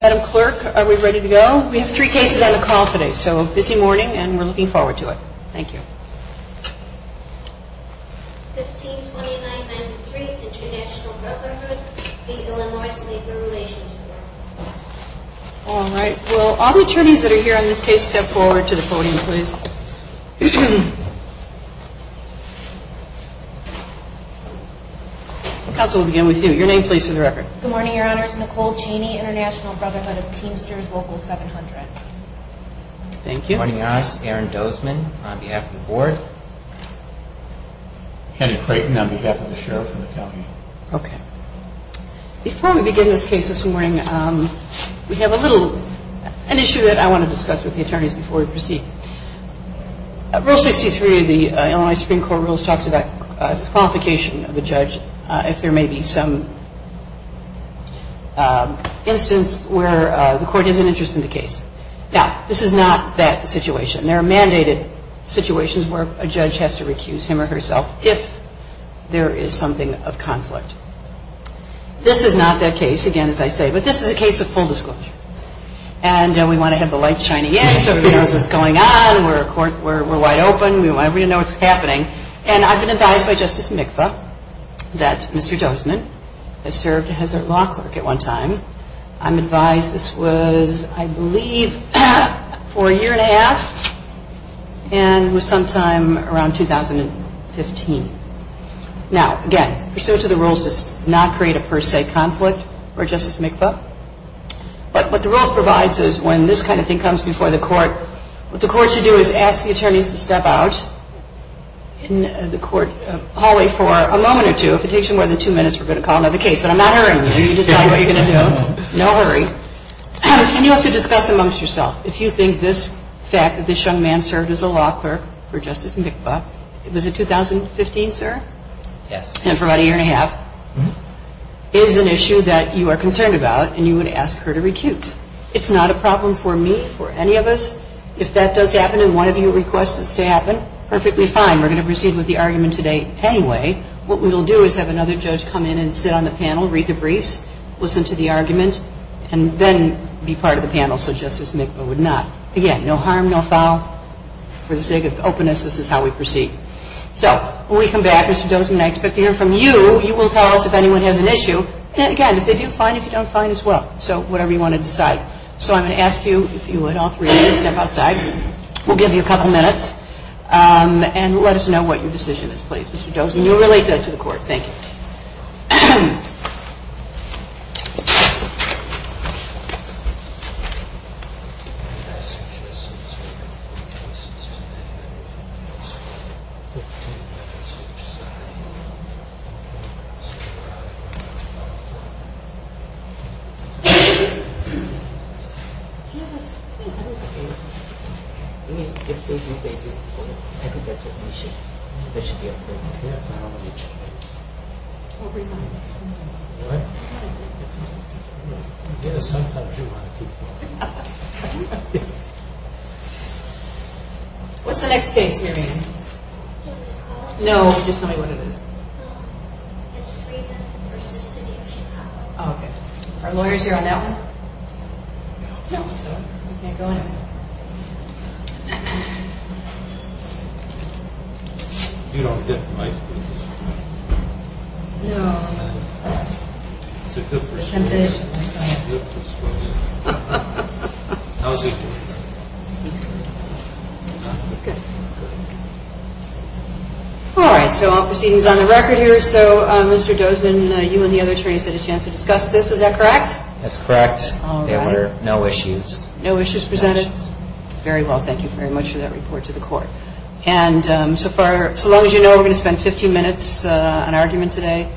Madam Clerk, are we ready to go? We have three cases on the call today, so busy morning and we're looking forward to it. Thank you. 1529-93 International Brotherhood v. Illinois Labor Relations Board All right. Will all the attorneys that are here on this case step forward to the podium, please? The counsel will begin with you. Your name, please, for the record. Good morning, Your Honors. Nicole Cheney, International Brotherhood of Teamsters Local 700. Thank you. Good morning, Your Honors. Aaron Dozman on behalf of the Board. Kenneth Creighton on behalf of the Sheriff of the County. Okay. Before we begin this case this morning, we have a little, an issue that I want to discuss with the attorneys before we proceed. Rule 63 of the Illinois Supreme Court rules talks about disqualification of a judge if there may be some instance where the court has an interest in the case. Now, this is not that situation. There are mandated situations where a judge has to recuse him or herself if there is something of conflict. This is not that case, again, as I say, but this is a case of full disclosure. And we want to have the light shining in so everybody knows what's going on. We're wide open. We want everybody to know what's happening. And I've been advised by Justice Mikva that Mr. Dozman has served as our law clerk at one time. I'm advised this was, I believe, for a year and a half and was sometime around 2015. Now, again, pursuant to the rules does not create a per se conflict for Justice Mikva. But what the rule provides is when this kind of thing comes before the court, what the court should do is ask the attorneys to step out in the court hallway for a moment or two. If it takes you more than two minutes, we're going to call another case. But I'm not hurrying you. You can decide what you're going to do. No hurry. And you have to discuss amongst yourself if you think this fact that this young man served as a law clerk for Justice Mikva, was it 2015, sir? Yes. And for about a year and a half, is an issue that you are concerned about and you would ask her to recuse. It's not a problem for me, for any of us. If that does happen and one of you requests this to happen, perfectly fine. We're going to proceed with the argument today anyway. What we will do is have another judge come in and sit on the panel, read the briefs, listen to the argument, and then be part of the panel, so Justice Mikva would not. Again, no harm, no foul. For the sake of openness, this is how we proceed. So when we come back, Mr. Dozman, I expect to hear from you. You will tell us if anyone has an issue. And again, if they do, fine. If you don't, fine as well. So whatever you want to decide. So I'm going to ask you, if you would, all three of you to step outside. We'll give you a couple minutes. And let us know what your decision is, please, Mr. Dozman. You'll relate that to the court. Thank you. Thank you. What? What's the next case you're reading? Can we call it? No, just tell me what it is. It's Friedman v. City of Chicago. Oh, okay. Are lawyers here on that one? No. No, so we can't go in. You don't get the mic, do you? No. All right, so all proceedings on the record here. So Mr. Dozman, you and the other attorneys had a chance to discuss this. Is that correct? That's correct. There were no issues. No issues presented? No issues. Very well. Thank you very much for that report to the court. And so far, so long as you know, we're going to spend 15 minutes on argument today,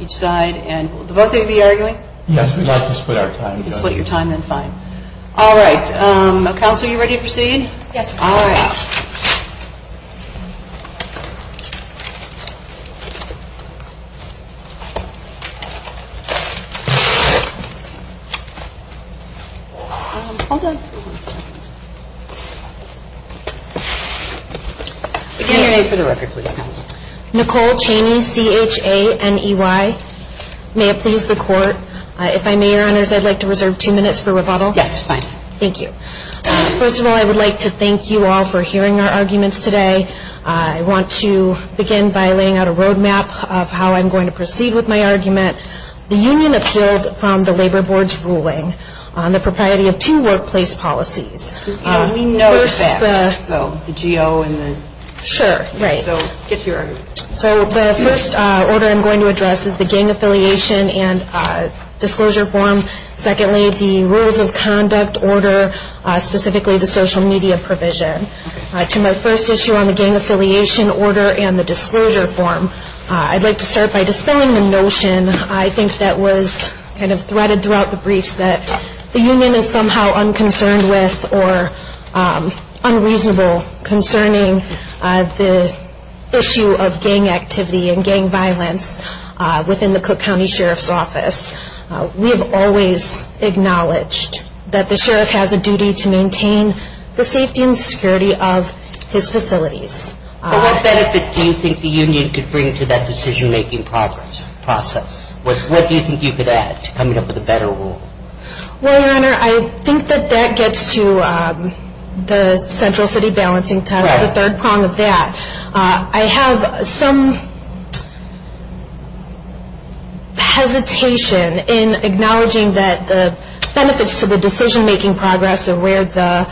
each side. And will both of you be arguing? Yes, we'd like to split our time. You'd split your time? Then fine. All right. Counsel, are you ready to proceed? Yes, ma'am. All right. All done. Again, you're ready for the record, please, counsel. Nicole Chaney, C-H-A-N-E-Y. May it please the court, if I may, Your Honors, I'd like to reserve two minutes for rebuttal. Yes, fine. Thank you. First of all, I would like to thank you all for hearing our arguments today. I want to begin by laying out a roadmap of how I'm going to proceed with my argument. The union appealed from the Labor Board's ruling on the propriety of two workplace policies. You know, we know the facts, so the G.O. and the- Sure, right. So get to your argument. So the first order I'm going to address is the gang affiliation and disclosure form. Secondly, the rules of conduct order, specifically the social media provision. To my first issue on the gang affiliation order and the disclosure form, I'd like to start by dispelling the notion, I think that was kind of threaded throughout the briefs, that the union is somehow unconcerned with or unreasonable concerning the issue of gang activity and gang violence within the Cook County Sheriff's Office. We have always acknowledged that the sheriff has a duty to maintain the safety and security of his facilities. What benefit do you think the union could bring to that decision-making process? What do you think you could add to coming up with a better rule? Well, Your Honor, I think that that gets to the central city balancing test, the third prong of that. I have some hesitation in acknowledging that the benefits to the decision-making progress are where the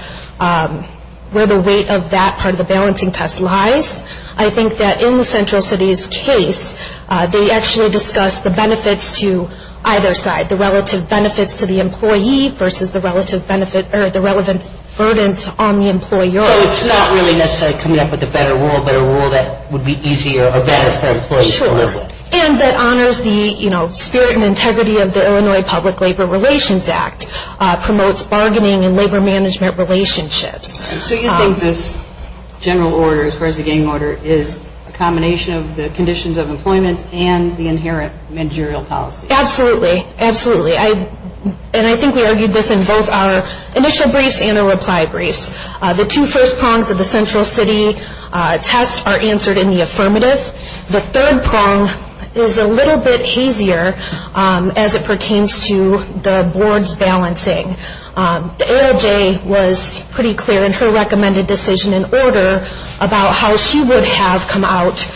weight of that part of the balancing test lies. I think that in the central city's case, they actually discuss the benefits to either side, the relative benefits to the employee versus the relevant burdens on the employer. So it's not really necessarily coming up with a better rule, but a rule that would be easier or better for employees to live with. Sure, and that honors the spirit and integrity of the Illinois Public Labor Relations Act, promotes bargaining and labor management relationships. So you think this general order, as far as the gang order, is a combination of the conditions of employment and the inherent managerial policy? Absolutely, absolutely. And I think we argued this in both our initial briefs and our reply briefs. The two first prongs of the central city test are answered in the affirmative. The third prong is a little bit hazier as it pertains to the board's balancing. The ALJ was pretty clear in her recommended decision and order about how she would have come out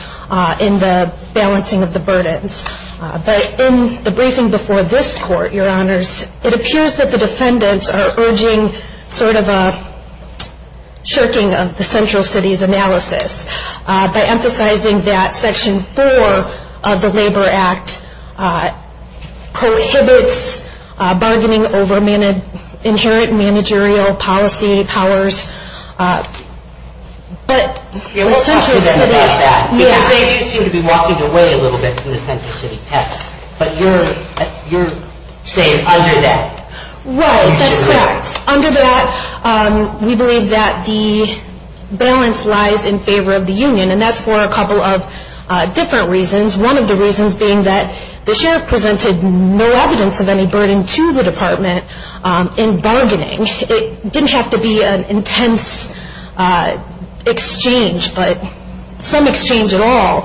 in the balancing of the burdens. But in the briefing before this court, Your Honors, it appears that the defendants are urging sort of a shirking of the central city's analysis by emphasizing that Section 4 of the Labor Act prohibits bargaining over inherent managerial policy powers. We'll talk to them about that. Because they do seem to be walking away a little bit from the central city test. But you're saying under that. Right, that's correct. Under that, we believe that the balance lies in favor of the union. And that's for a couple of different reasons. One of the reasons being that the sheriff presented no evidence of any burden to the department in bargaining. It didn't have to be an intense exchange. But some exchange at all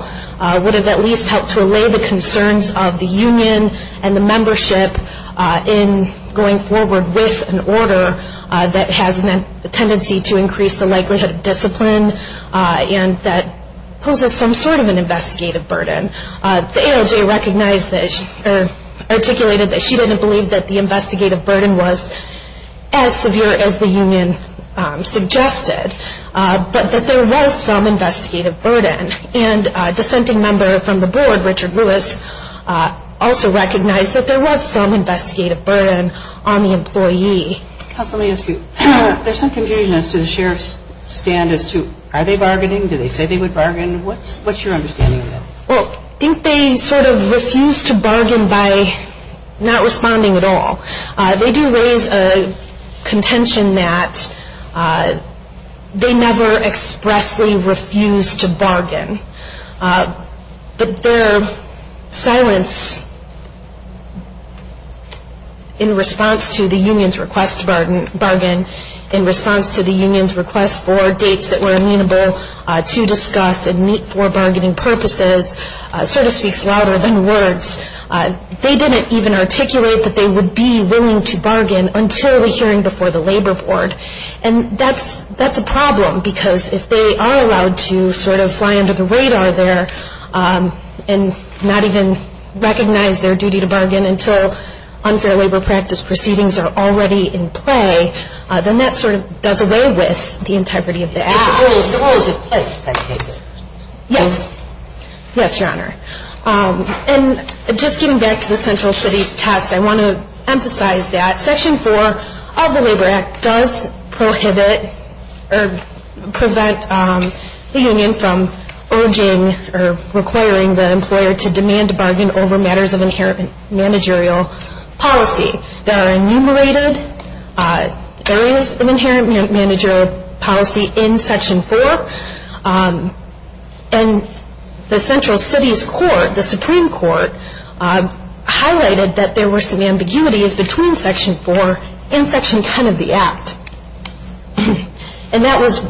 would have at least helped to allay the concerns of the union and the membership in going forward with an order that has a tendency to increase the likelihood of discipline and that poses some sort of an investigative burden. The ALJ articulated that she didn't believe that the investigative burden was as severe as the union suggested. But that there was some investigative burden. And a dissenting member from the board, Richard Lewis, also recognized that there was some investigative burden on the employee. Counsel, let me ask you. There's some confusion as to the sheriff's stand as to are they bargaining? Do they say they would bargain? What's your understanding of that? Well, I think they sort of refuse to bargain by not responding at all. They do raise a contention that they never expressly refuse to bargain. But their silence in response to the union's request to bargain, in response to the union's request for dates that were amenable to discuss and meet for bargaining purposes, sort of speaks louder than words. They didn't even articulate that they would be willing to bargain until the hearing before the labor board. And that's a problem because if they are allowed to sort of fly under the radar there and not even recognize their duty to bargain until unfair labor practice proceedings are already in play, then that sort of does away with the integrity of the act. So what was at play at that table? Yes. Yes, Your Honor. And just getting back to the central cities test, I want to emphasize that Section 4 of the Labor Act does prohibit or prevent the union from urging or requiring the employer to demand a bargain over matters of inherent managerial policy. There are enumerated areas of inherent managerial policy in Section 4. And the central cities court, the Supreme Court, highlighted that there were some ambiguities between Section 4 and Section 10 of the act. And that was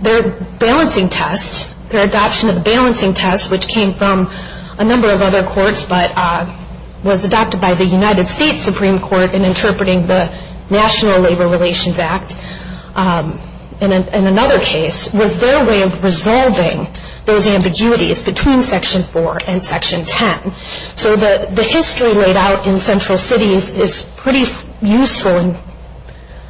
their balancing test, their adoption of the balancing test, which came from a number of other courts but was adopted by the United States Supreme Court in interpreting the National Labor Relations Act. And another case was their way of resolving those ambiguities between Section 4 and Section 10. So the history laid out in central cities is pretty useful in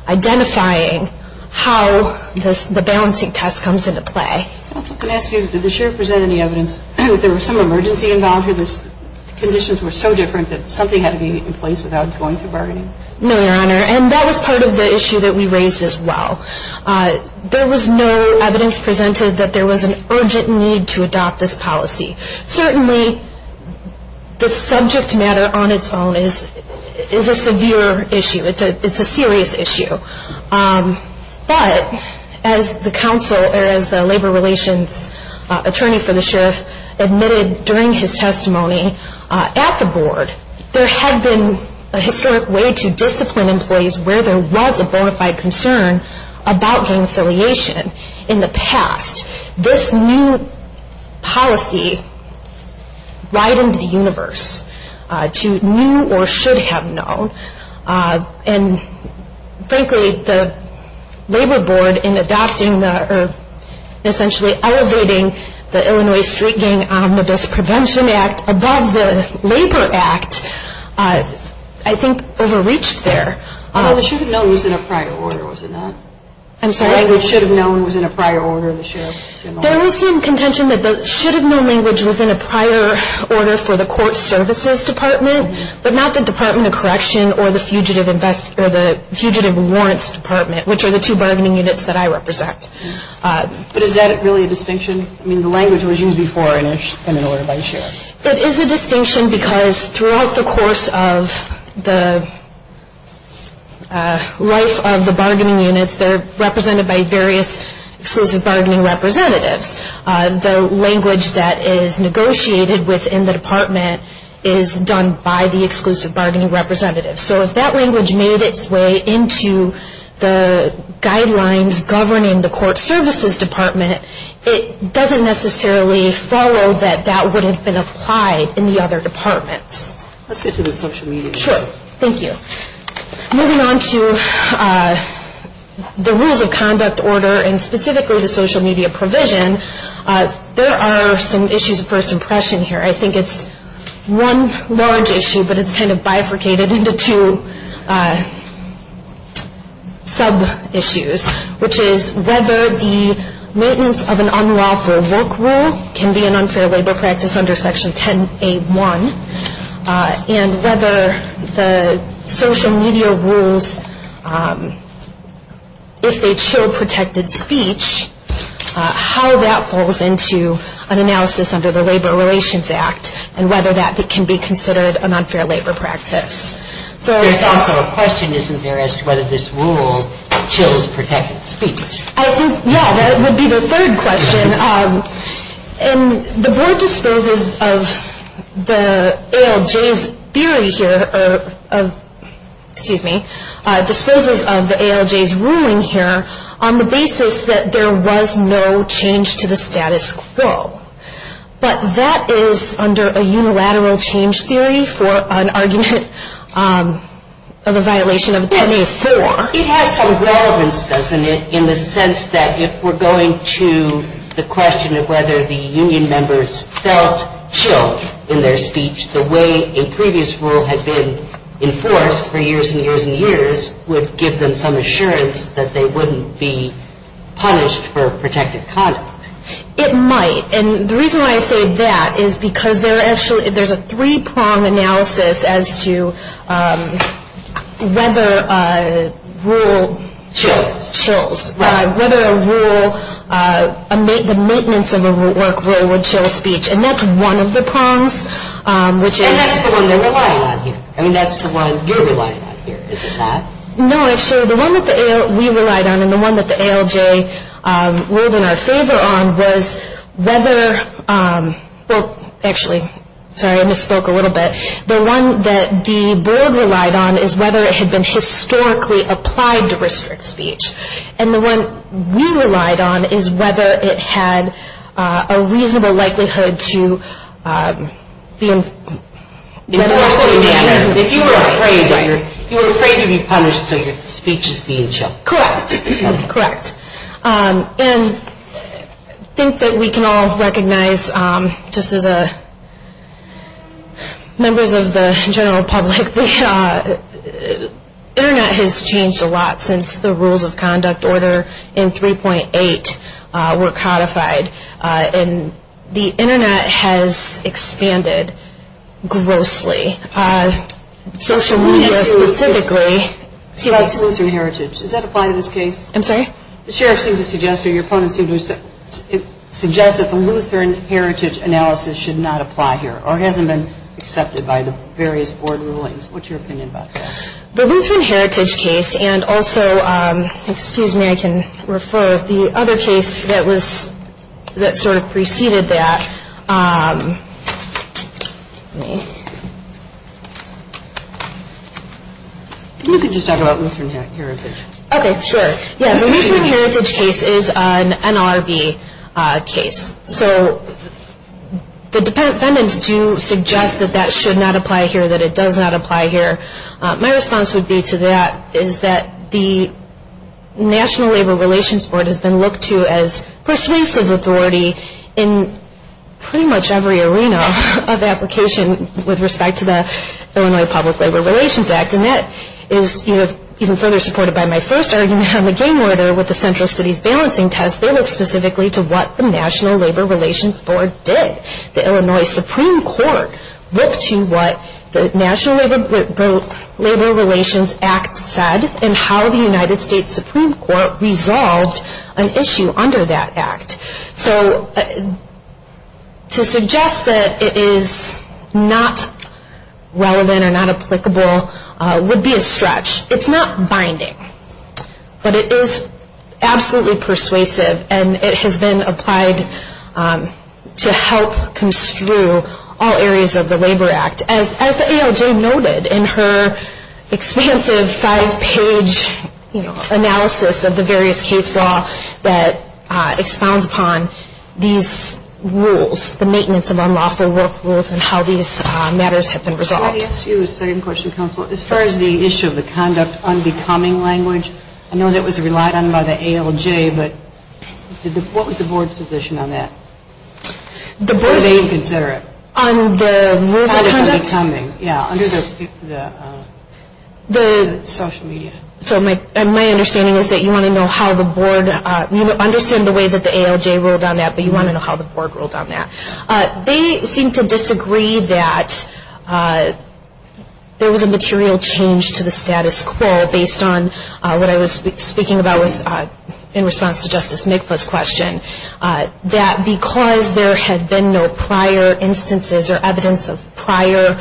identifying how the balancing test comes into play. Counsel, can I ask you, did the sheriff present any evidence that there was some emergency involved or the conditions were so different that something had to be in place without going through bargaining? No, Your Honor. And that was part of the issue that we raised as well. There was no evidence presented that there was an urgent need to adopt this policy. Certainly, the subject matter on its own is a severe issue. It's a serious issue. But as the counsel or as the labor relations attorney for the sheriff admitted during his testimony at the board, there had been a historic way to discipline employees where there was a bona fide concern about gang affiliation in the past. This new policy widened the universe to new or should have known. And frankly, the labor board in adopting or essentially elevating the Illinois Street Gang Omnibus Prevention Act above the Labor Act, I think, overreached there. The should have known was in a prior order, was it not? I'm sorry? The language should have known was in a prior order in the sheriff's memo? There was some contention that the should have known language was in a prior order for the court services department, but not the Department of Correction or the Fugitive Warrants Department, which are the two bargaining units that I represent. But is that really a distinction? I mean, the language was used before in an order by the sheriff. It is a distinction because throughout the course of the life of the bargaining units, they're represented by various exclusive bargaining representatives. The language that is negotiated within the department is done by the exclusive bargaining representative. So if that language made its way into the guidelines governing the court services department, it doesn't necessarily follow that that would have been applied in the other departments. Let's get to the social media. Sure. Thank you. Moving on to the rules of conduct order and specifically the social media provision, there are some issues of first impression here. I think it's one large issue, but it's kind of bifurcated into two sub-issues, which is whether the maintenance of an unlawful work rule can be an unfair labor practice under Section 10A1, and whether the social media rules, if they chill protected speech, how that falls into an analysis under the Labor Relations Act and whether that can be considered an unfair labor practice. There's also a question, isn't there, as to whether this rule chills protected speech? I think, yeah, that would be the third question. And the board disposes of the ALJ's theory here, excuse me, disposes of the ALJ's ruling here on the basis that there was no change to the status quo. But that is under a unilateral change theory for an argument of a violation of 10A4. It has some relevance, doesn't it, in the sense that if we're going to the question of whether the union members felt chilled in their speech, the way a previous rule had been enforced for years and years and years would give them some assurance that they wouldn't be punished for protected conduct. It might. And the reason why I say that is because there are actually, there's a three-prong analysis as to whether a rule chills, whether a rule, the maintenance of a work rule would chill speech. And that's one of the prongs, which is. And that's the one they're relying on here. I mean, that's the one you're relying on here, isn't that? No, actually, the one that we relied on and the one that the ALJ ruled in our favor on was whether, well, actually, sorry, I misspoke a little bit. The one that the board relied on is whether it had been historically applied to restrict speech. And the one we relied on is whether it had a reasonable likelihood to be enforced. If you were afraid, you were afraid to be punished until your speech was being chilled. Correct. Correct. And I think that we can all recognize, just as members of the general public, the Internet has changed a lot since the rules of conduct order in 3.8 were codified. And the Internet has expanded grossly. Social media specifically. About the Lutheran heritage, does that apply to this case? I'm sorry? The sheriff seems to suggest, or your opponent seems to suggest, that the Lutheran heritage analysis should not apply here or hasn't been accepted by the various board rulings. What's your opinion about that? The Lutheran heritage case and also, excuse me, I can refer. The other case that was, that sort of preceded that. Let me. You can just talk about Lutheran heritage. Okay, sure. Yeah, the Lutheran heritage case is an NLRB case. So the dependent defendants do suggest that that should not apply here, that it does not apply here. My response would be to that is that the National Labor Relations Board has been looked to as persuasive authority in pretty much every arena of application with respect to the Illinois Public Labor Relations Act. And that is even further supported by my first argument on the game order with the Central Cities Balancing Test. They look specifically to what the National Labor Relations Board did. The Illinois Supreme Court looked to what the National Labor Relations Act said and how the United States Supreme Court resolved an issue under that act. So to suggest that it is not relevant or not applicable would be a stretch. It's not binding, but it is absolutely persuasive and it has been applied to help construe all areas of the Labor Act. As the ALJ noted in her expansive five-page analysis of the various case law that expounds upon these rules, the maintenance of unlawful work rules and how these matters have been resolved. I want to ask you a second question, counsel. As far as the issue of the conduct unbecoming language, I know that was relied on by the ALJ, but what was the board's position on that? The board... Or they would consider it. On the rules of conduct? Yeah, under the social media. So my understanding is that you want to know how the board, you understand the way that the ALJ ruled on that, but you want to know how the board ruled on that. They seem to disagree that there was a material change to the status quo based on what I was speaking about in response to Justice Mikva's question, that because there had been no prior instances or evidence of prior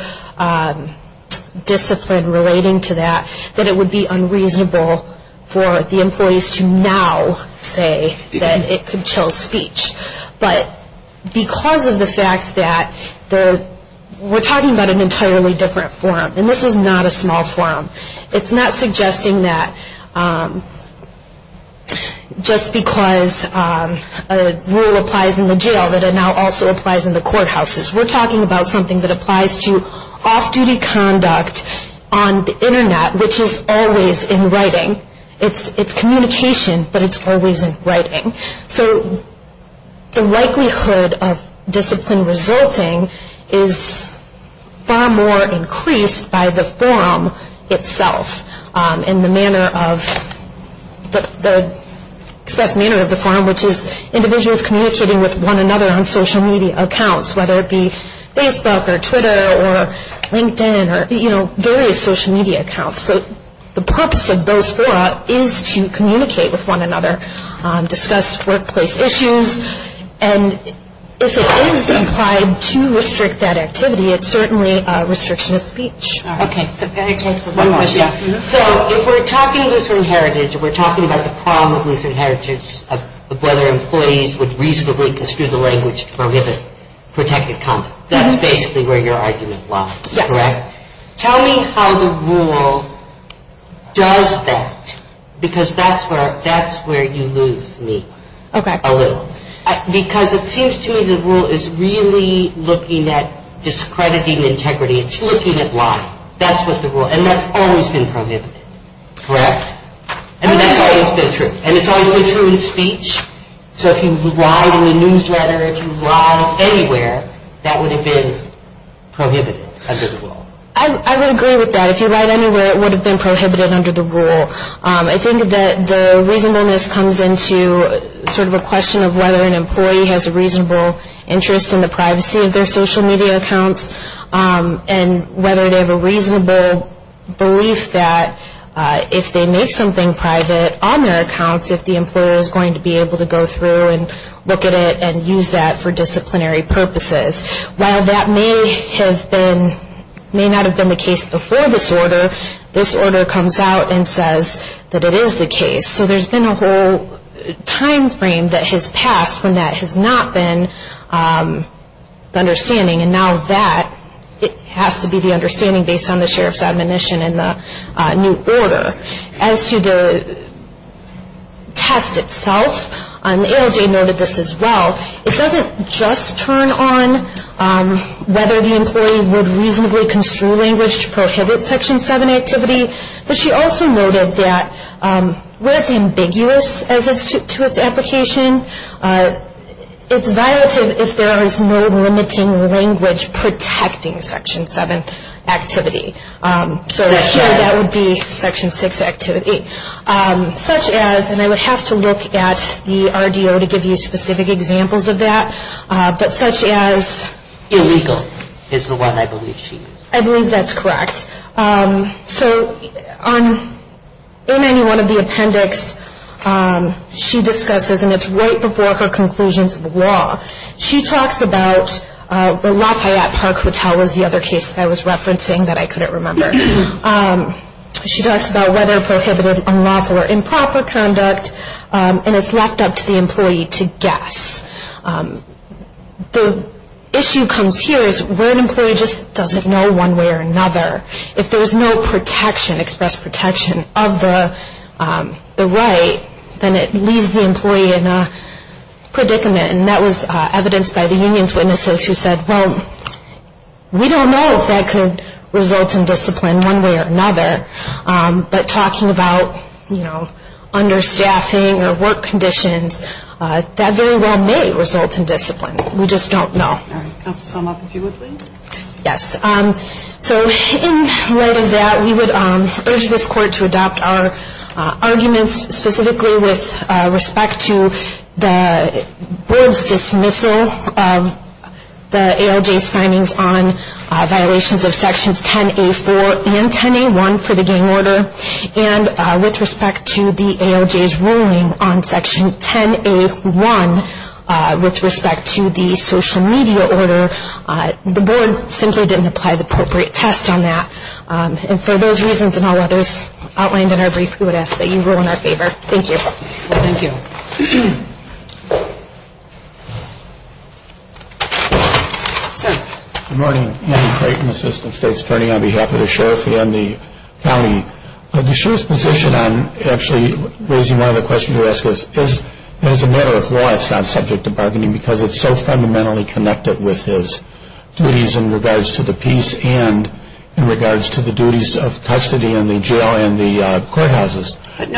discipline relating to that, that it would be unreasonable for the employees to now say that it could chill speech. But because of the fact that we're talking about an entirely different forum, and this is not a small forum, it's not suggesting that just because a rule applies in the jail that it now also applies in the courthouses. We're talking about something that applies to off-duty conduct on the Internet, which is always in writing. It's communication, but it's always in writing. So the likelihood of discipline resulting is far more increased by the forum itself in the manner of the forum, which is individuals communicating with one another on social media accounts, whether it be Facebook or Twitter or LinkedIn or various social media accounts. So the purpose of those fora is to communicate with one another, discuss workplace issues, and if it is implied to restrict that activity, it's certainly a restriction of speech. Okay. So if we're talking about the problem of loose inheritance, of whether employees would reasonably construe the language to prohibit protected conduct, Yes. tell me how the rule does that, because that's where you lose me a little. Okay. Because it seems to me the rule is really looking at discrediting integrity. It's looking at lying. That's what the rule, and that's always been prohibited. Correct. And that's always been true, and it's always been true in speech. So if you lied in the newsletter, if you lied anywhere, that would have been prohibited under the rule. I would agree with that. If you lied anywhere, it would have been prohibited under the rule. I think that the reasonableness comes into sort of a question of whether an employee has a reasonable interest in the privacy of their social media accounts and whether they have a reasonable belief that if they make something private on their accounts, if the employer is going to be able to go through and look at it and use that for disciplinary purposes. While that may not have been the case before this order, this order comes out and says that it is the case. So there's been a whole time frame that has passed when that has not been the understanding, and now that has to be the understanding based on the sheriff's admonition in the new order. As to the test itself, ALJ noted this as well. It doesn't just turn on whether the employee would reasonably construe language to prohibit Section 7 activity, but she also noted that where it's ambiguous to its application, it's violative if there is no limiting language protecting Section 7 activity. So here that would be Section 6 activity. Such as, and I would have to look at the RDO to give you specific examples of that, but such as... Illegal is the one I believe she used. I believe that's correct. So in any one of the appendix she discusses, and it's right before her conclusion to the law, she talks about, the Lafayette Park Hotel was the other case that I was referencing that I couldn't remember. She talks about whether prohibited, unlawful, or improper conduct, and it's left up to the employee to guess. The issue comes here is where an employee just doesn't know one way or another. If there's no protection, express protection of the right, then it leaves the employee in a predicament, and that was evidenced by the union's witnesses who said, well, we don't know if that could result in discipline one way or another, but talking about understaffing or work conditions, that very well may result in discipline. We just don't know. All right. Counsel, sum up, if you would, please. Yes. So in writing that, we would urge this court to adopt our arguments, specifically with respect to the board's dismissal of the ALJ's findings on violations of Sections 10A4 and 10A1 for the gang order, and with respect to the ALJ's ruling on Section 10A1 with respect to the social media order. The board simply didn't apply the appropriate test on that, and for those reasons and all others outlined in our brief, we would ask that you rule in our favor. Thank you. Thank you. Sir. Good morning. Andy Creighton, assistant state's attorney on behalf of the sheriff and the county. The sheriff's position on actually raising one of the questions you asked is, as a matter of law, it's not subject to bargaining, because it's so fundamentally connected with his duties in regards to the peace and in regards to the duties of custody in the jail and the courthouses. Are we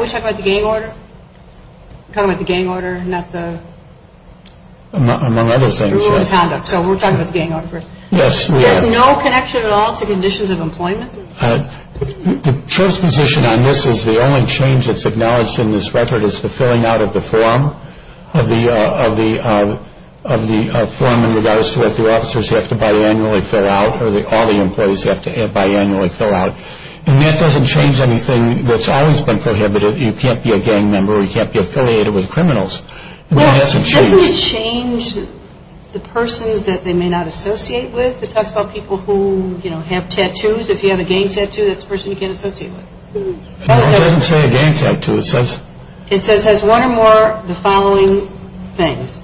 talking about the gang order? Talking about the gang order, not the rule of conduct. Among other things, yes. So we're talking about the gang order first. Yes, we are. There's no connection at all to conditions of employment? The sheriff's position on this is the only change that's acknowledged in this record is the filling out of the form in regards to what the officers have to biannually fill out or all the employees have to biannually fill out, and that doesn't change anything that's always been prohibited. You can't be a gang member or you can't be affiliated with criminals. That hasn't changed. Well, doesn't it change the persons that they may not associate with? It talks about people who have tattoos. If you have a gang tattoo, that's a person you can't associate with. It doesn't say a gang tattoo. It says one or more of the following things.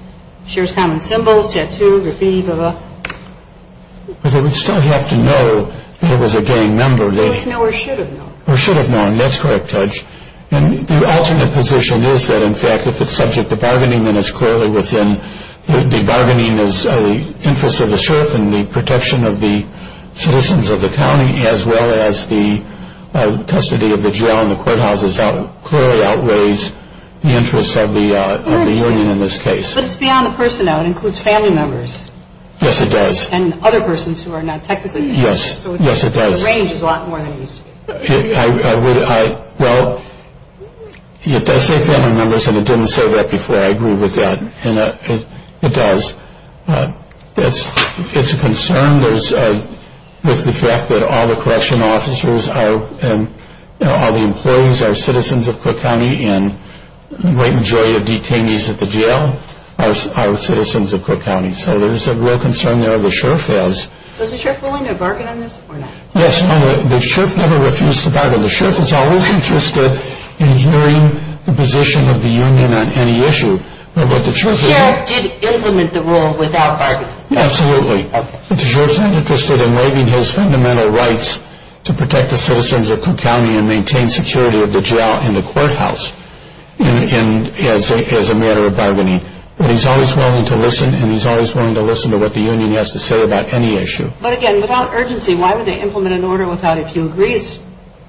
Shares common symbols, tattoo, graffiti, blah, blah. But they would still have to know that it was a gang member. They would know or should have known. Or should have known. That's correct, Judge. And the alternate position is that, in fact, if it's subject to bargaining, and it's clearly within the bargaining is the interests of the sheriff and the protection of the citizens of the county as well as the custody of the jail and the courthouses clearly outweighs the interests of the union in this case. But it's beyond the person, though. It includes family members. Yes, it does. And other persons who are not technically gang members. Yes, it does. So the range is a lot more than it used to be. Well, it does say family members, and it didn't say that before. I agree with that. It does. It's a concern with the fact that all the correction officers and all the employees are citizens of Cook County and the great majority of detainees at the jail are citizens of Cook County. So there's a real concern there the sheriff has. So is the sheriff willing to bargain on this or not? Yes, the sheriff never refused to bargain. The sheriff is always interested in hearing the position of the union on any issue. The sheriff did implement the rule without bargaining. Absolutely. But the sheriff's not interested in waiving his fundamental rights to protect the citizens of Cook County and maintain security of the jail and the courthouse as a matter of bargaining. But he's always willing to listen, and he's always willing to listen to what the union has to say about any issue. But again, without urgency, why would they implement an order without, if you agree it's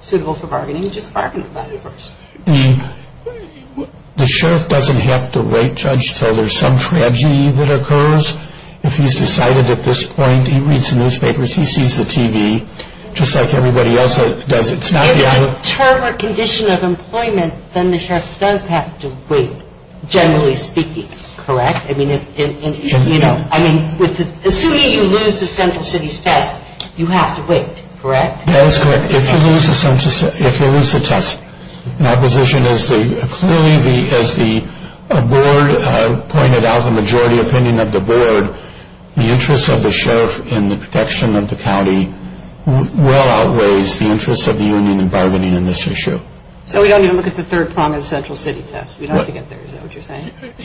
suitable for bargaining, just bargain about it first? The sheriff doesn't have to wait, Judge, until there's some tragedy that occurs. If he's decided at this point, he reads the newspapers, he sees the TV, just like everybody else does. If it's a term or condition of employment, then the sheriff does have to wait, generally speaking, correct? I mean, assuming you lose the central city's test, you have to wait, correct? That is correct. If you lose the test, my position is clearly, as the board pointed out, the majority opinion of the board, the interest of the sheriff in the protection of the county well outweighs the interest of the union in bargaining on this issue. So we don't even look at the third prong of the central city test? We don't have to get there, is that what you're saying? Right.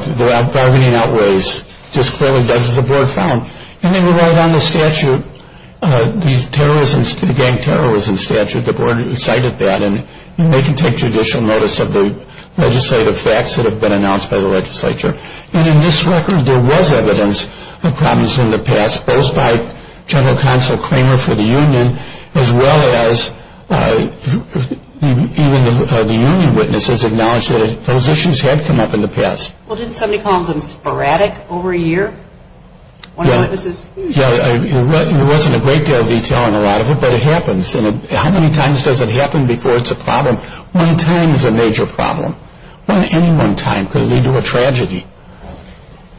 The bargaining outweighs, just clearly does as the board found. And they were right on the statute, the gang terrorism statute. The board cited that, and they can take judicial notice of the legislative facts that have been announced by the legislature. And in this record, there was evidence of problems in the past, both by General Counsel Cramer for the union, as well as even the union witnesses acknowledged that those issues had come up in the past. Well, didn't somebody call them sporadic over a year? Yeah, there wasn't a great deal of detail on a lot of it, but it happens. And how many times does it happen before it's a problem? One time is a major problem. Any one time could lead to a tragedy.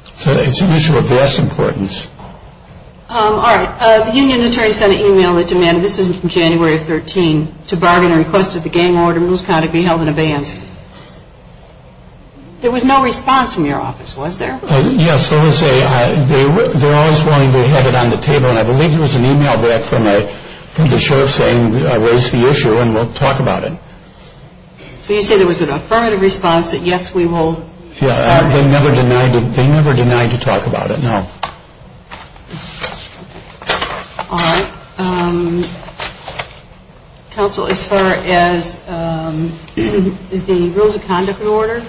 So it's an issue of vast importance. All right. The union attorney sent an email that demanded, this is from January of 2013, to Bargainer, requested the gang order in Mills County be held in abeyance. There was no response from your office, was there? Yes, let me say, they're always willing to have it on the table, and I believe it was an email back from the sheriff saying, raise the issue and we'll talk about it. So you say there was an affirmative response that, yes, we will? Yeah, they never denied to talk about it, no. All right. Counsel, as far as the rules of conduct and order?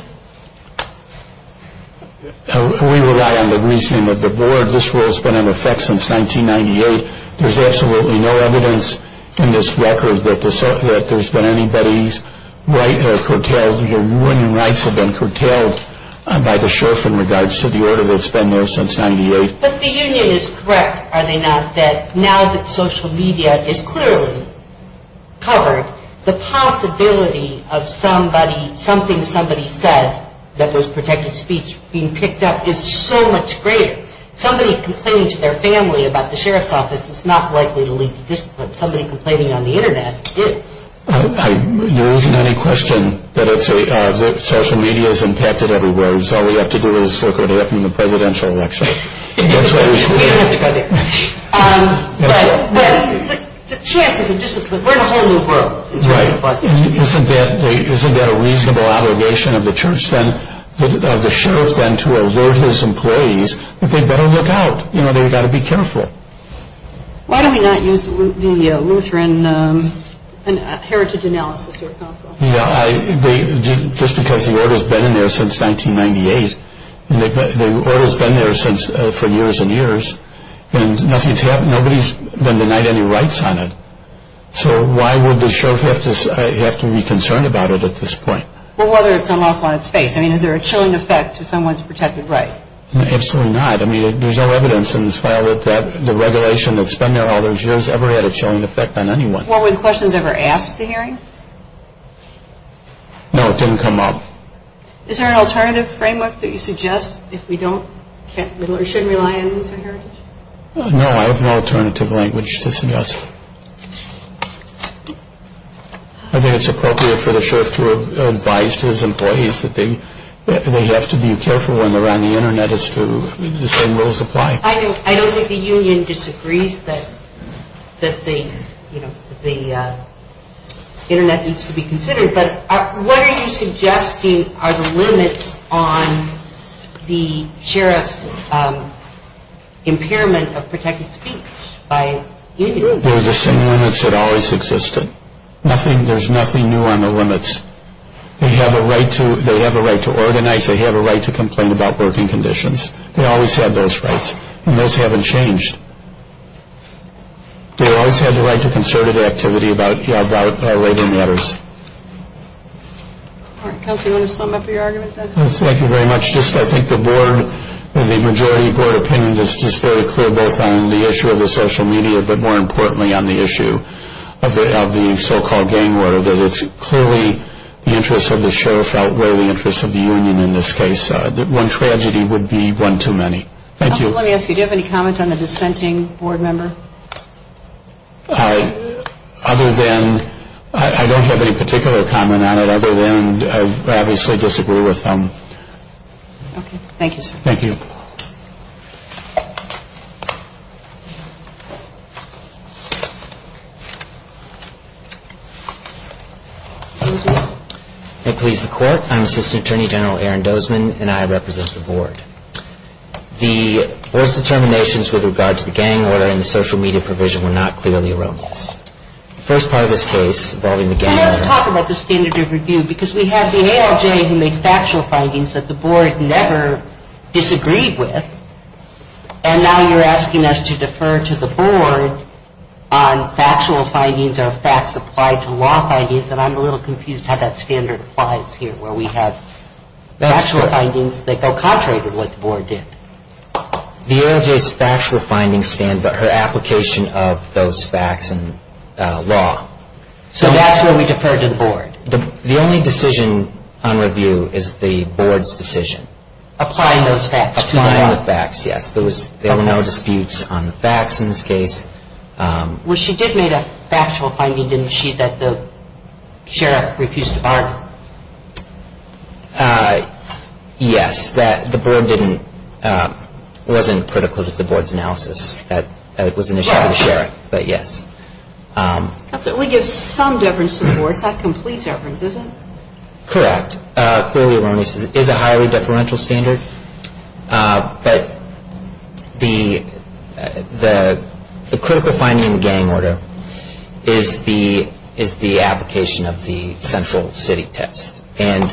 We rely on the reasoning of the board. This rule has been in effect since 1998. There's absolutely no evidence in this record that there's been anybody's right or curtailed, that the union rights have been curtailed by the sheriff in regards to the order that's been there since 1998. But the union is correct, are they not, that now that social media is clearly covered, the possibility of something somebody said that was protected speech being picked up is so much greater. Somebody complaining to their family about the sheriff's office is not likely to lead to discipline. Somebody complaining on the Internet is. There isn't any question that social media is impacted everywhere. It's all we have to do is look at it from the presidential election. We don't have to go there. But the chances of discipline, we're in a whole new world. Right. Isn't that a reasonable obligation of the sheriff then to alert his employees that they better look out? You know, they've got to be careful. Why do we not use the Lutheran heritage analysis here at counsel? Yeah, just because the order's been in there since 1998. The order's been there for years and years, and nobody's been denied any rights on it. So why would the sheriff have to be concerned about it at this point? Well, whether it's unlawful on its face. I mean, is there a chilling effect to someone's protected right? Absolutely not. I mean, there's no evidence in this file that the regulation that's been there all those years ever had a chilling effect on anyone. Well, were the questions ever asked at the hearing? No, it didn't come up. Is there an alternative framework that you suggest if we don't or shouldn't rely on the Lutheran heritage? No, I have no alternative language to suggest. I think it's appropriate for the sheriff to advise his employees that they have to be careful when they're on the Internet as to the same rules apply. I don't think the union disagrees that the Internet needs to be considered, but what are you suggesting are the limits on the sheriff's impairment of protected speech by unions? They're the same limits that always existed. There's nothing new on the limits. They have a right to organize. They have a right to complain about working conditions. They always had those rights, and those haven't changed. They always had the right to concerted activity about other matters. All right, Kelsey, do you want to sum up your argument then? Yes, thank you very much. I think the majority board opinion is just very clear both on the issue of the social media, but more importantly on the issue of the so-called gang war. It's clearly the interests of the sheriff outweigh the interests of the union in this case. One tragedy would be one too many. Thank you. Let me ask you, do you have any comment on the dissenting board member? Other than I don't have any particular comment on it other than I obviously disagree with him. Okay, thank you, sir. Thank you. Excuse me. May it please the court. I'm Assistant Attorney General Aaron Dozman, and I represent the board. The board's determinations with regard to the gang order and the social media provision were not clearly erroneous. The first part of this case involving the gang order. Let's talk about the standard of review because we have the ALJ who made factual findings that the board never disagreed with, and now you're asking us to defer to the board on factual findings or facts applied to law findings, and I'm a little confused how that standard applies here where we have factual findings that go contrary to what the board did. The ALJ's factual findings stand by her application of those facts and law. So that's where we defer to the board? The only decision on review is the board's decision. Applying those facts. Applying the facts, yes. There were no disputes on the facts in this case. Well, she did make a factual finding, didn't she, that the sheriff refused to bargain? Yes, that the board didn't, wasn't critical to the board's analysis. That was initially the sheriff, but yes. We give some deference to the board. It's not complete deference, is it? Correct. Clearly erroneous is a highly deferential standard, but the critical finding in the gang order is the application of the central city test, and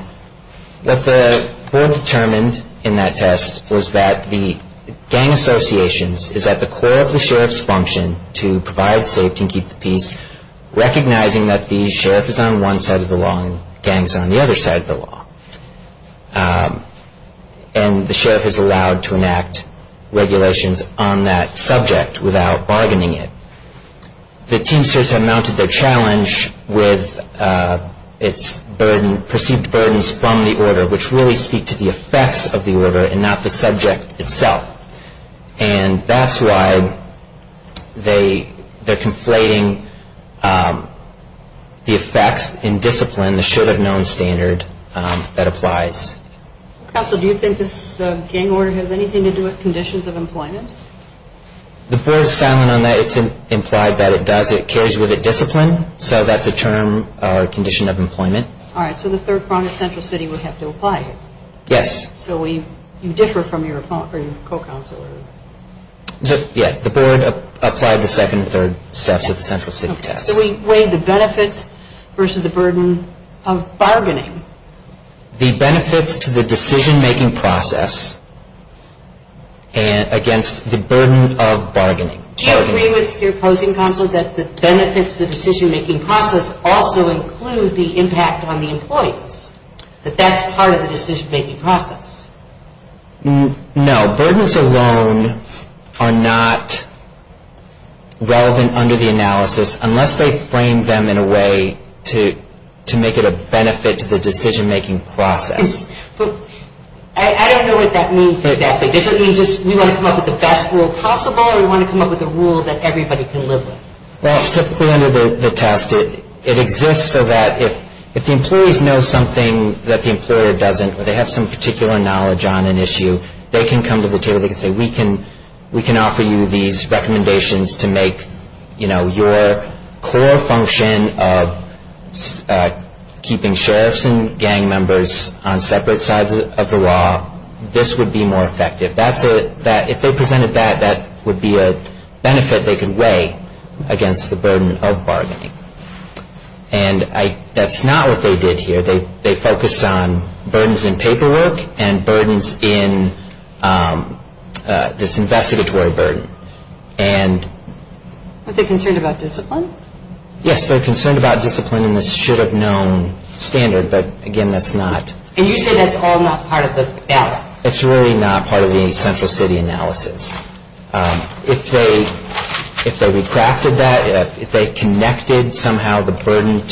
what the board determined in that test was that the gang associations is at the core of the sheriff's function to provide safety and keep the peace, recognizing that the sheriff is on one side of the law and gangs on the other side of the law. And the sheriff is allowed to enact regulations on that subject without bargaining it. The teamsters have mounted their challenge with its perceived burdens from the order, which really speak to the effects of the order and not the subject itself. And that's why they're conflating the effects in discipline, the should-have-known standard, that applies. Counsel, do you think this gang order has anything to do with conditions of employment? The board is silent on that. It's implied that it does. It carries with it discipline, so that's a term or condition of employment. All right, so the third prong of central city would have to apply here. Yes. So you differ from your co-counselor. Yes, the board applied the second and third steps of the central city test. So we weighed the benefits versus the burden of bargaining. The benefits to the decision-making process against the burden of bargaining. Do you agree with your opposing counsel that the benefits to the decision-making process also include the impact on the employees, that that's part of the decision-making process? No, burdens alone are not relevant under the analysis unless they frame them in a way to make it a benefit to the decision-making process. I don't know what that means exactly. Does it mean just we want to come up with the best rule possible or we want to come up with a rule that everybody can live with? Well, typically under the test, it exists so that if the employees know something that the employer doesn't or they have some particular knowledge on an issue, they can come to the table, they can say we can offer you these recommendations to make, you know, your core function of keeping sheriffs and gang members on separate sides of the law, this would be more effective. If they presented that, that would be a benefit they could weigh against the burden of bargaining. And that's not what they did here. They focused on burdens in paperwork and burdens in this investigatory burden. Are they concerned about discipline? Yes, they're concerned about discipline in this should-have-known standard, but again, that's not. And you say that's all not part of the balance. It's really not part of the central city analysis. If they recrafted that, if they connected somehow the burden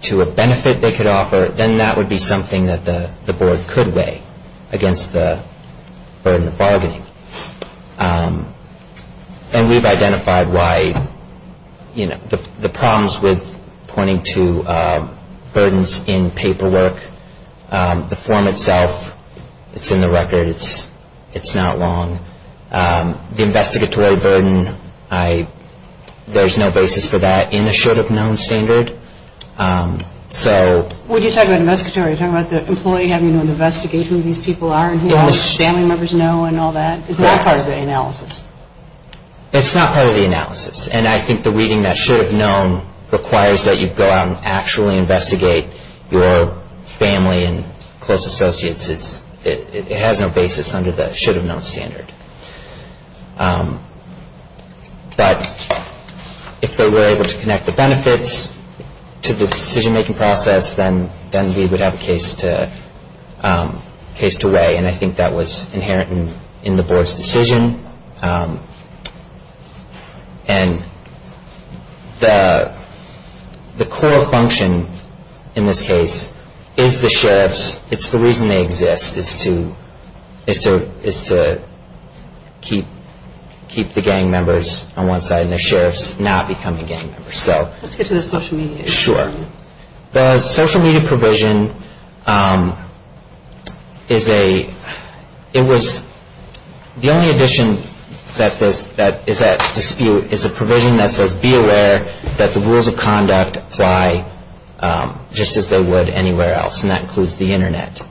to a benefit they could offer, then that would be something that the board could weigh against the burden of bargaining. And we've identified why, you know, the problems with pointing to burdens in paperwork, the form itself, it's in the record, it's not wrong. The investigatory burden, there's no basis for that in a should-have-known standard. When you talk about investigatory, are you talking about the employee having to investigate who these people are and who all the family members know and all that? Is that part of the analysis? It's not part of the analysis. And I think the reading that should-have-known requires that you go out and actually investigate your family and close associates. It has no basis under the should-have-known standard. But if they were able to connect the benefits to the decision-making process, then we would have a case to weigh. And I think that was inherent in the board's decision. And the core function in this case is the sheriffs. It's the reason they exist, is to keep the gang members on one side and the sheriffs not becoming gang members. Let's get to the social media. Sure. The social media provision, it was the only addition that is at dispute, is a provision that says be aware that the rules of conduct apply just as they would anywhere else, and that includes the Internet.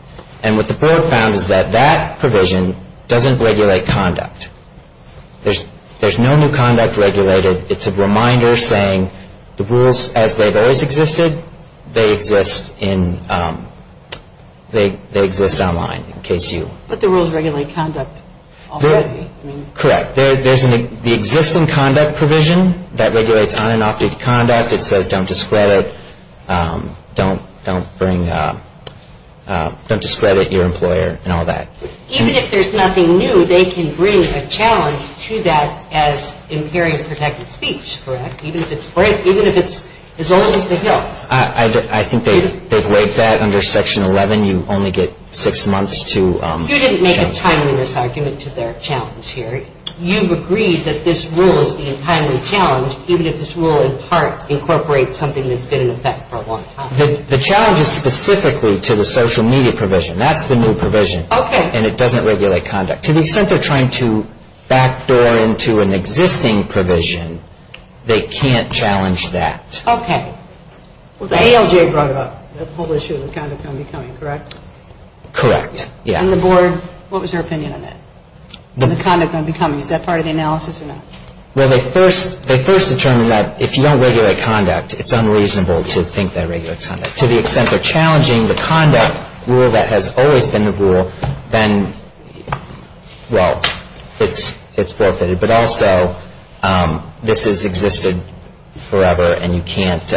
And what the board found is that that provision doesn't regulate conduct. There's no new conduct regulated. It's a reminder saying the rules as they've always existed, they exist online in case you- But the rules regulate conduct already. Correct. There's the existing conduct provision that regulates unadopted conduct. It says don't discredit your employer and all that. Even if there's nothing new, they can bring a challenge to that as imperious protected speech, correct? Even if it's as old as the hill. I think they've laid that under Section 11. You only get six months to- You didn't make a timeliness argument to their challenge here. You've agreed that this rule is being timely challenged, even if this rule in part incorporates something that's been in effect for a long time. The challenge is specifically to the social media provision. That's the new provision. Okay. And it doesn't regulate conduct. To the extent they're trying to backdoor into an existing provision, they can't challenge that. Okay. Well, the ALJ brought up the whole issue of the conduct going to be coming, correct? Correct, yeah. And the board, what was their opinion on that? The conduct going to be coming, is that part of the analysis or not? Well, they first determined that if you don't regulate conduct, it's unreasonable to think that it regulates conduct. To the extent they're challenging the conduct rule that has always been the rule, then, well, it's forfeited. But also, this has existed forever, and you can't-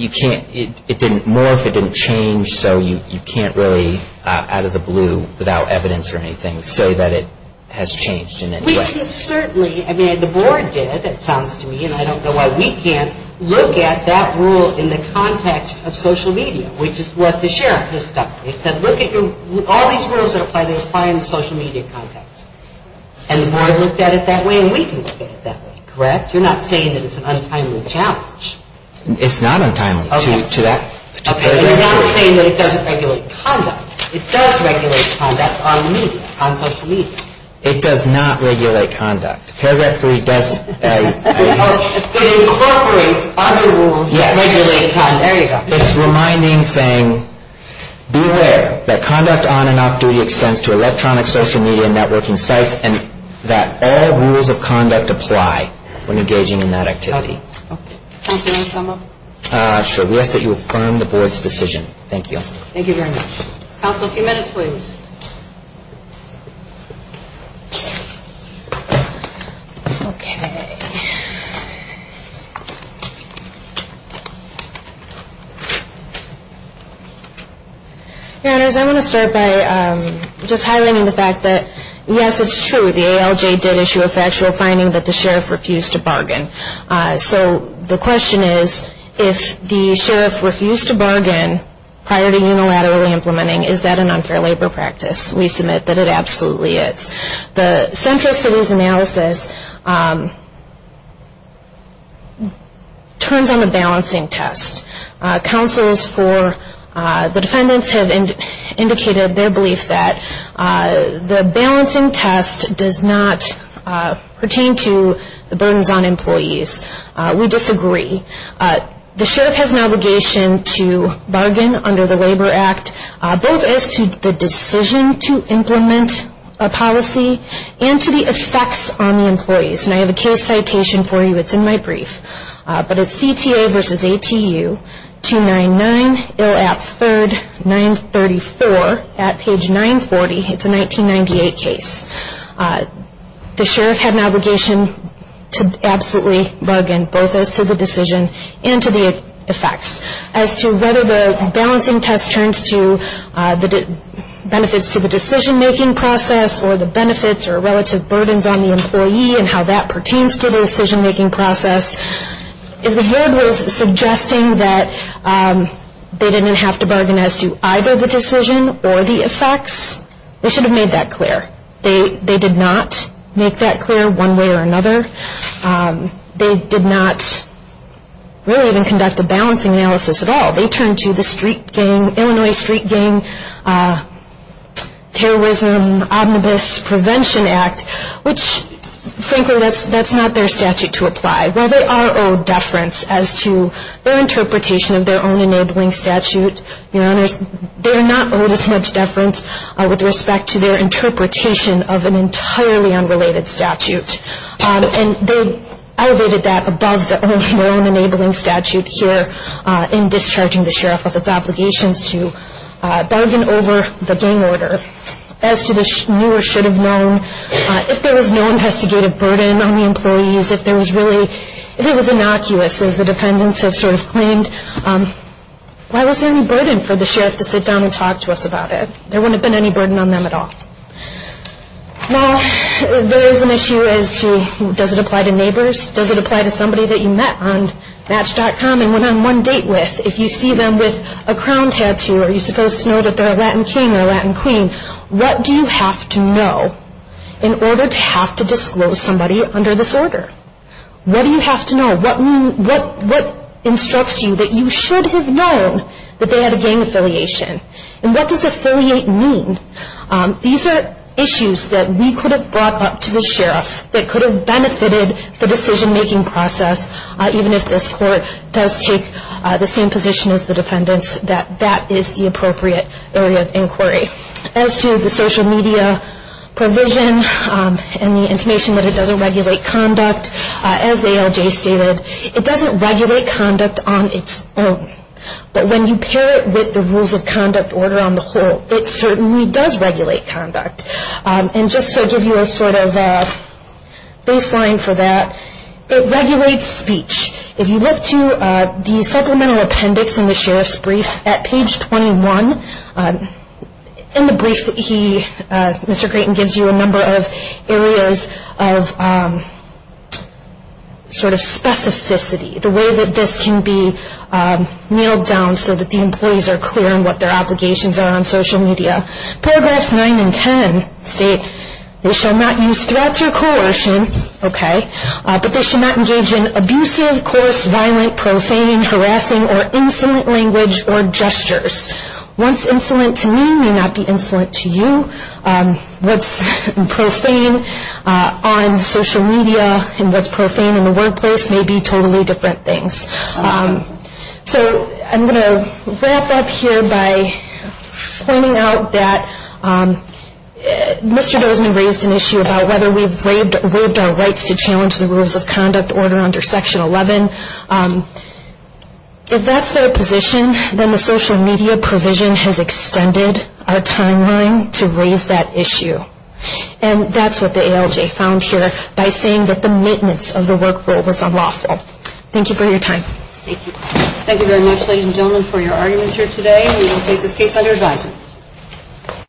it didn't morph, it didn't change, so you can't really, out of the blue, without evidence or anything, say that it has changed in any way. We can certainly, I mean, the board did, it sounds to me, and I don't know why we can't, look at that rule in the context of social media, which is what the sheriff has done. He said, look at your- all these rules that apply, they apply in the social media context. And the board looked at it that way, and we can look at it that way, correct? You're not saying that it's an untimely challenge. It's not untimely to that particular- Okay, but you're not saying that it doesn't regulate conduct. It does regulate conduct on media, on social media. It does not regulate conduct. Paragraph 3 does- It incorporates other rules that regulate conduct. Yes. There you go. It's reminding, saying, beware that conduct on and off duty extends to electronic social media and networking sites, and that all rules of conduct apply when engaging in that activity. Okay. Counsel, do you want to sum up? Sure. We ask that you affirm the board's decision. Thank you. Thank you very much. Counsel, a few minutes, please. Okay. Your Honors, I want to start by just highlighting the fact that, yes, it's true, the ALJ did issue a factual finding that the sheriff refused to bargain. So the question is, if the sheriff refused to bargain prior to unilaterally implementing, is that an unfair labor practice? We submit that it absolutely is. The Central Cities Analysis turns on the balancing test. Counsels for the defendants have indicated their belief that the balancing test does not pertain to the burdens on employees. We disagree. The sheriff has an obligation to bargain under the Labor Act, both as to the decision to implement a policy and to the effects on the employees. And I have a case citation for you. It's in my brief. But it's CTA versus ATU, 299, ILAP 3rd, 934, at page 940. It's a 1998 case. The sheriff had an obligation to absolutely bargain both as to the decision and to the effects. As to whether the balancing test turns to the benefits to the decision-making process or the benefits or relative burdens on the employee and how that pertains to the decision-making process, if the board was suggesting that they didn't have to bargain as to either the decision or the effects, they should have made that clear. They did not make that clear one way or another. They did not really even conduct a balancing analysis at all. They turned to the Illinois Street Gang Terrorism Omnibus Prevention Act, which, frankly, that's not their statute to apply. While they are owed deference as to their interpretation of their own enabling statute, Your Honors, they are not owed as much deference with respect to their interpretation of an entirely unrelated statute. And they elevated that above their own enabling statute here in discharging the sheriff of its obligations to bargain over the gang order. As to the new or should have known, if there was no investigative burden on the employees, if it was innocuous, as the defendants have sort of claimed, why was there any burden for the sheriff to sit down and talk to us about it? There wouldn't have been any burden on them at all. Now, there is an issue as to does it apply to neighbors? Does it apply to somebody that you met on Match.com and went on one date with? If you see them with a crown tattoo, are you supposed to know that they're a Latin king or a Latin queen? What do you have to know in order to have to disclose somebody under this order? What do you have to know? What instructs you that you should have known that they had a gang affiliation? And what does affiliate mean? These are issues that we could have brought up to the sheriff that could have benefited the decision-making process, even if this court does take the same position as the defendants that that is the appropriate area of inquiry. As to the social media provision and the intimation that it doesn't regulate conduct, as ALJ stated, it doesn't regulate conduct on its own. But when you pair it with the rules of conduct order on the whole, it certainly does regulate conduct. And just to give you a sort of baseline for that, it regulates speech. If you look to the supplemental appendix in the sheriff's brief at page 21, in the brief, Mr. Creighton gives you a number of areas of sort of specificity, the way that this can be nailed down so that the employees are clear on what their obligations are on social media. Paragraphs 9 and 10 state they shall not use threats or coercion, okay, but they should not engage in abusive, coarse, violent, profane, harassing, or insolent language or gestures. What's insolent to me may not be insolent to you. What's profane on social media and what's profane in the workplace may be totally different things. So I'm going to wrap up here by pointing out that Mr. Dozman raised an issue about whether we've waived our rights to challenge the rules of conduct order under Section 11. If that's their position, then the social media provision has extended our timeline to raise that issue. And that's what the ALJ found here by saying that the maintenance of the work rule was unlawful. Thank you for your time. Thank you. Thank you very much, ladies and gentlemen, for your arguments here today. We will take this case under advisement.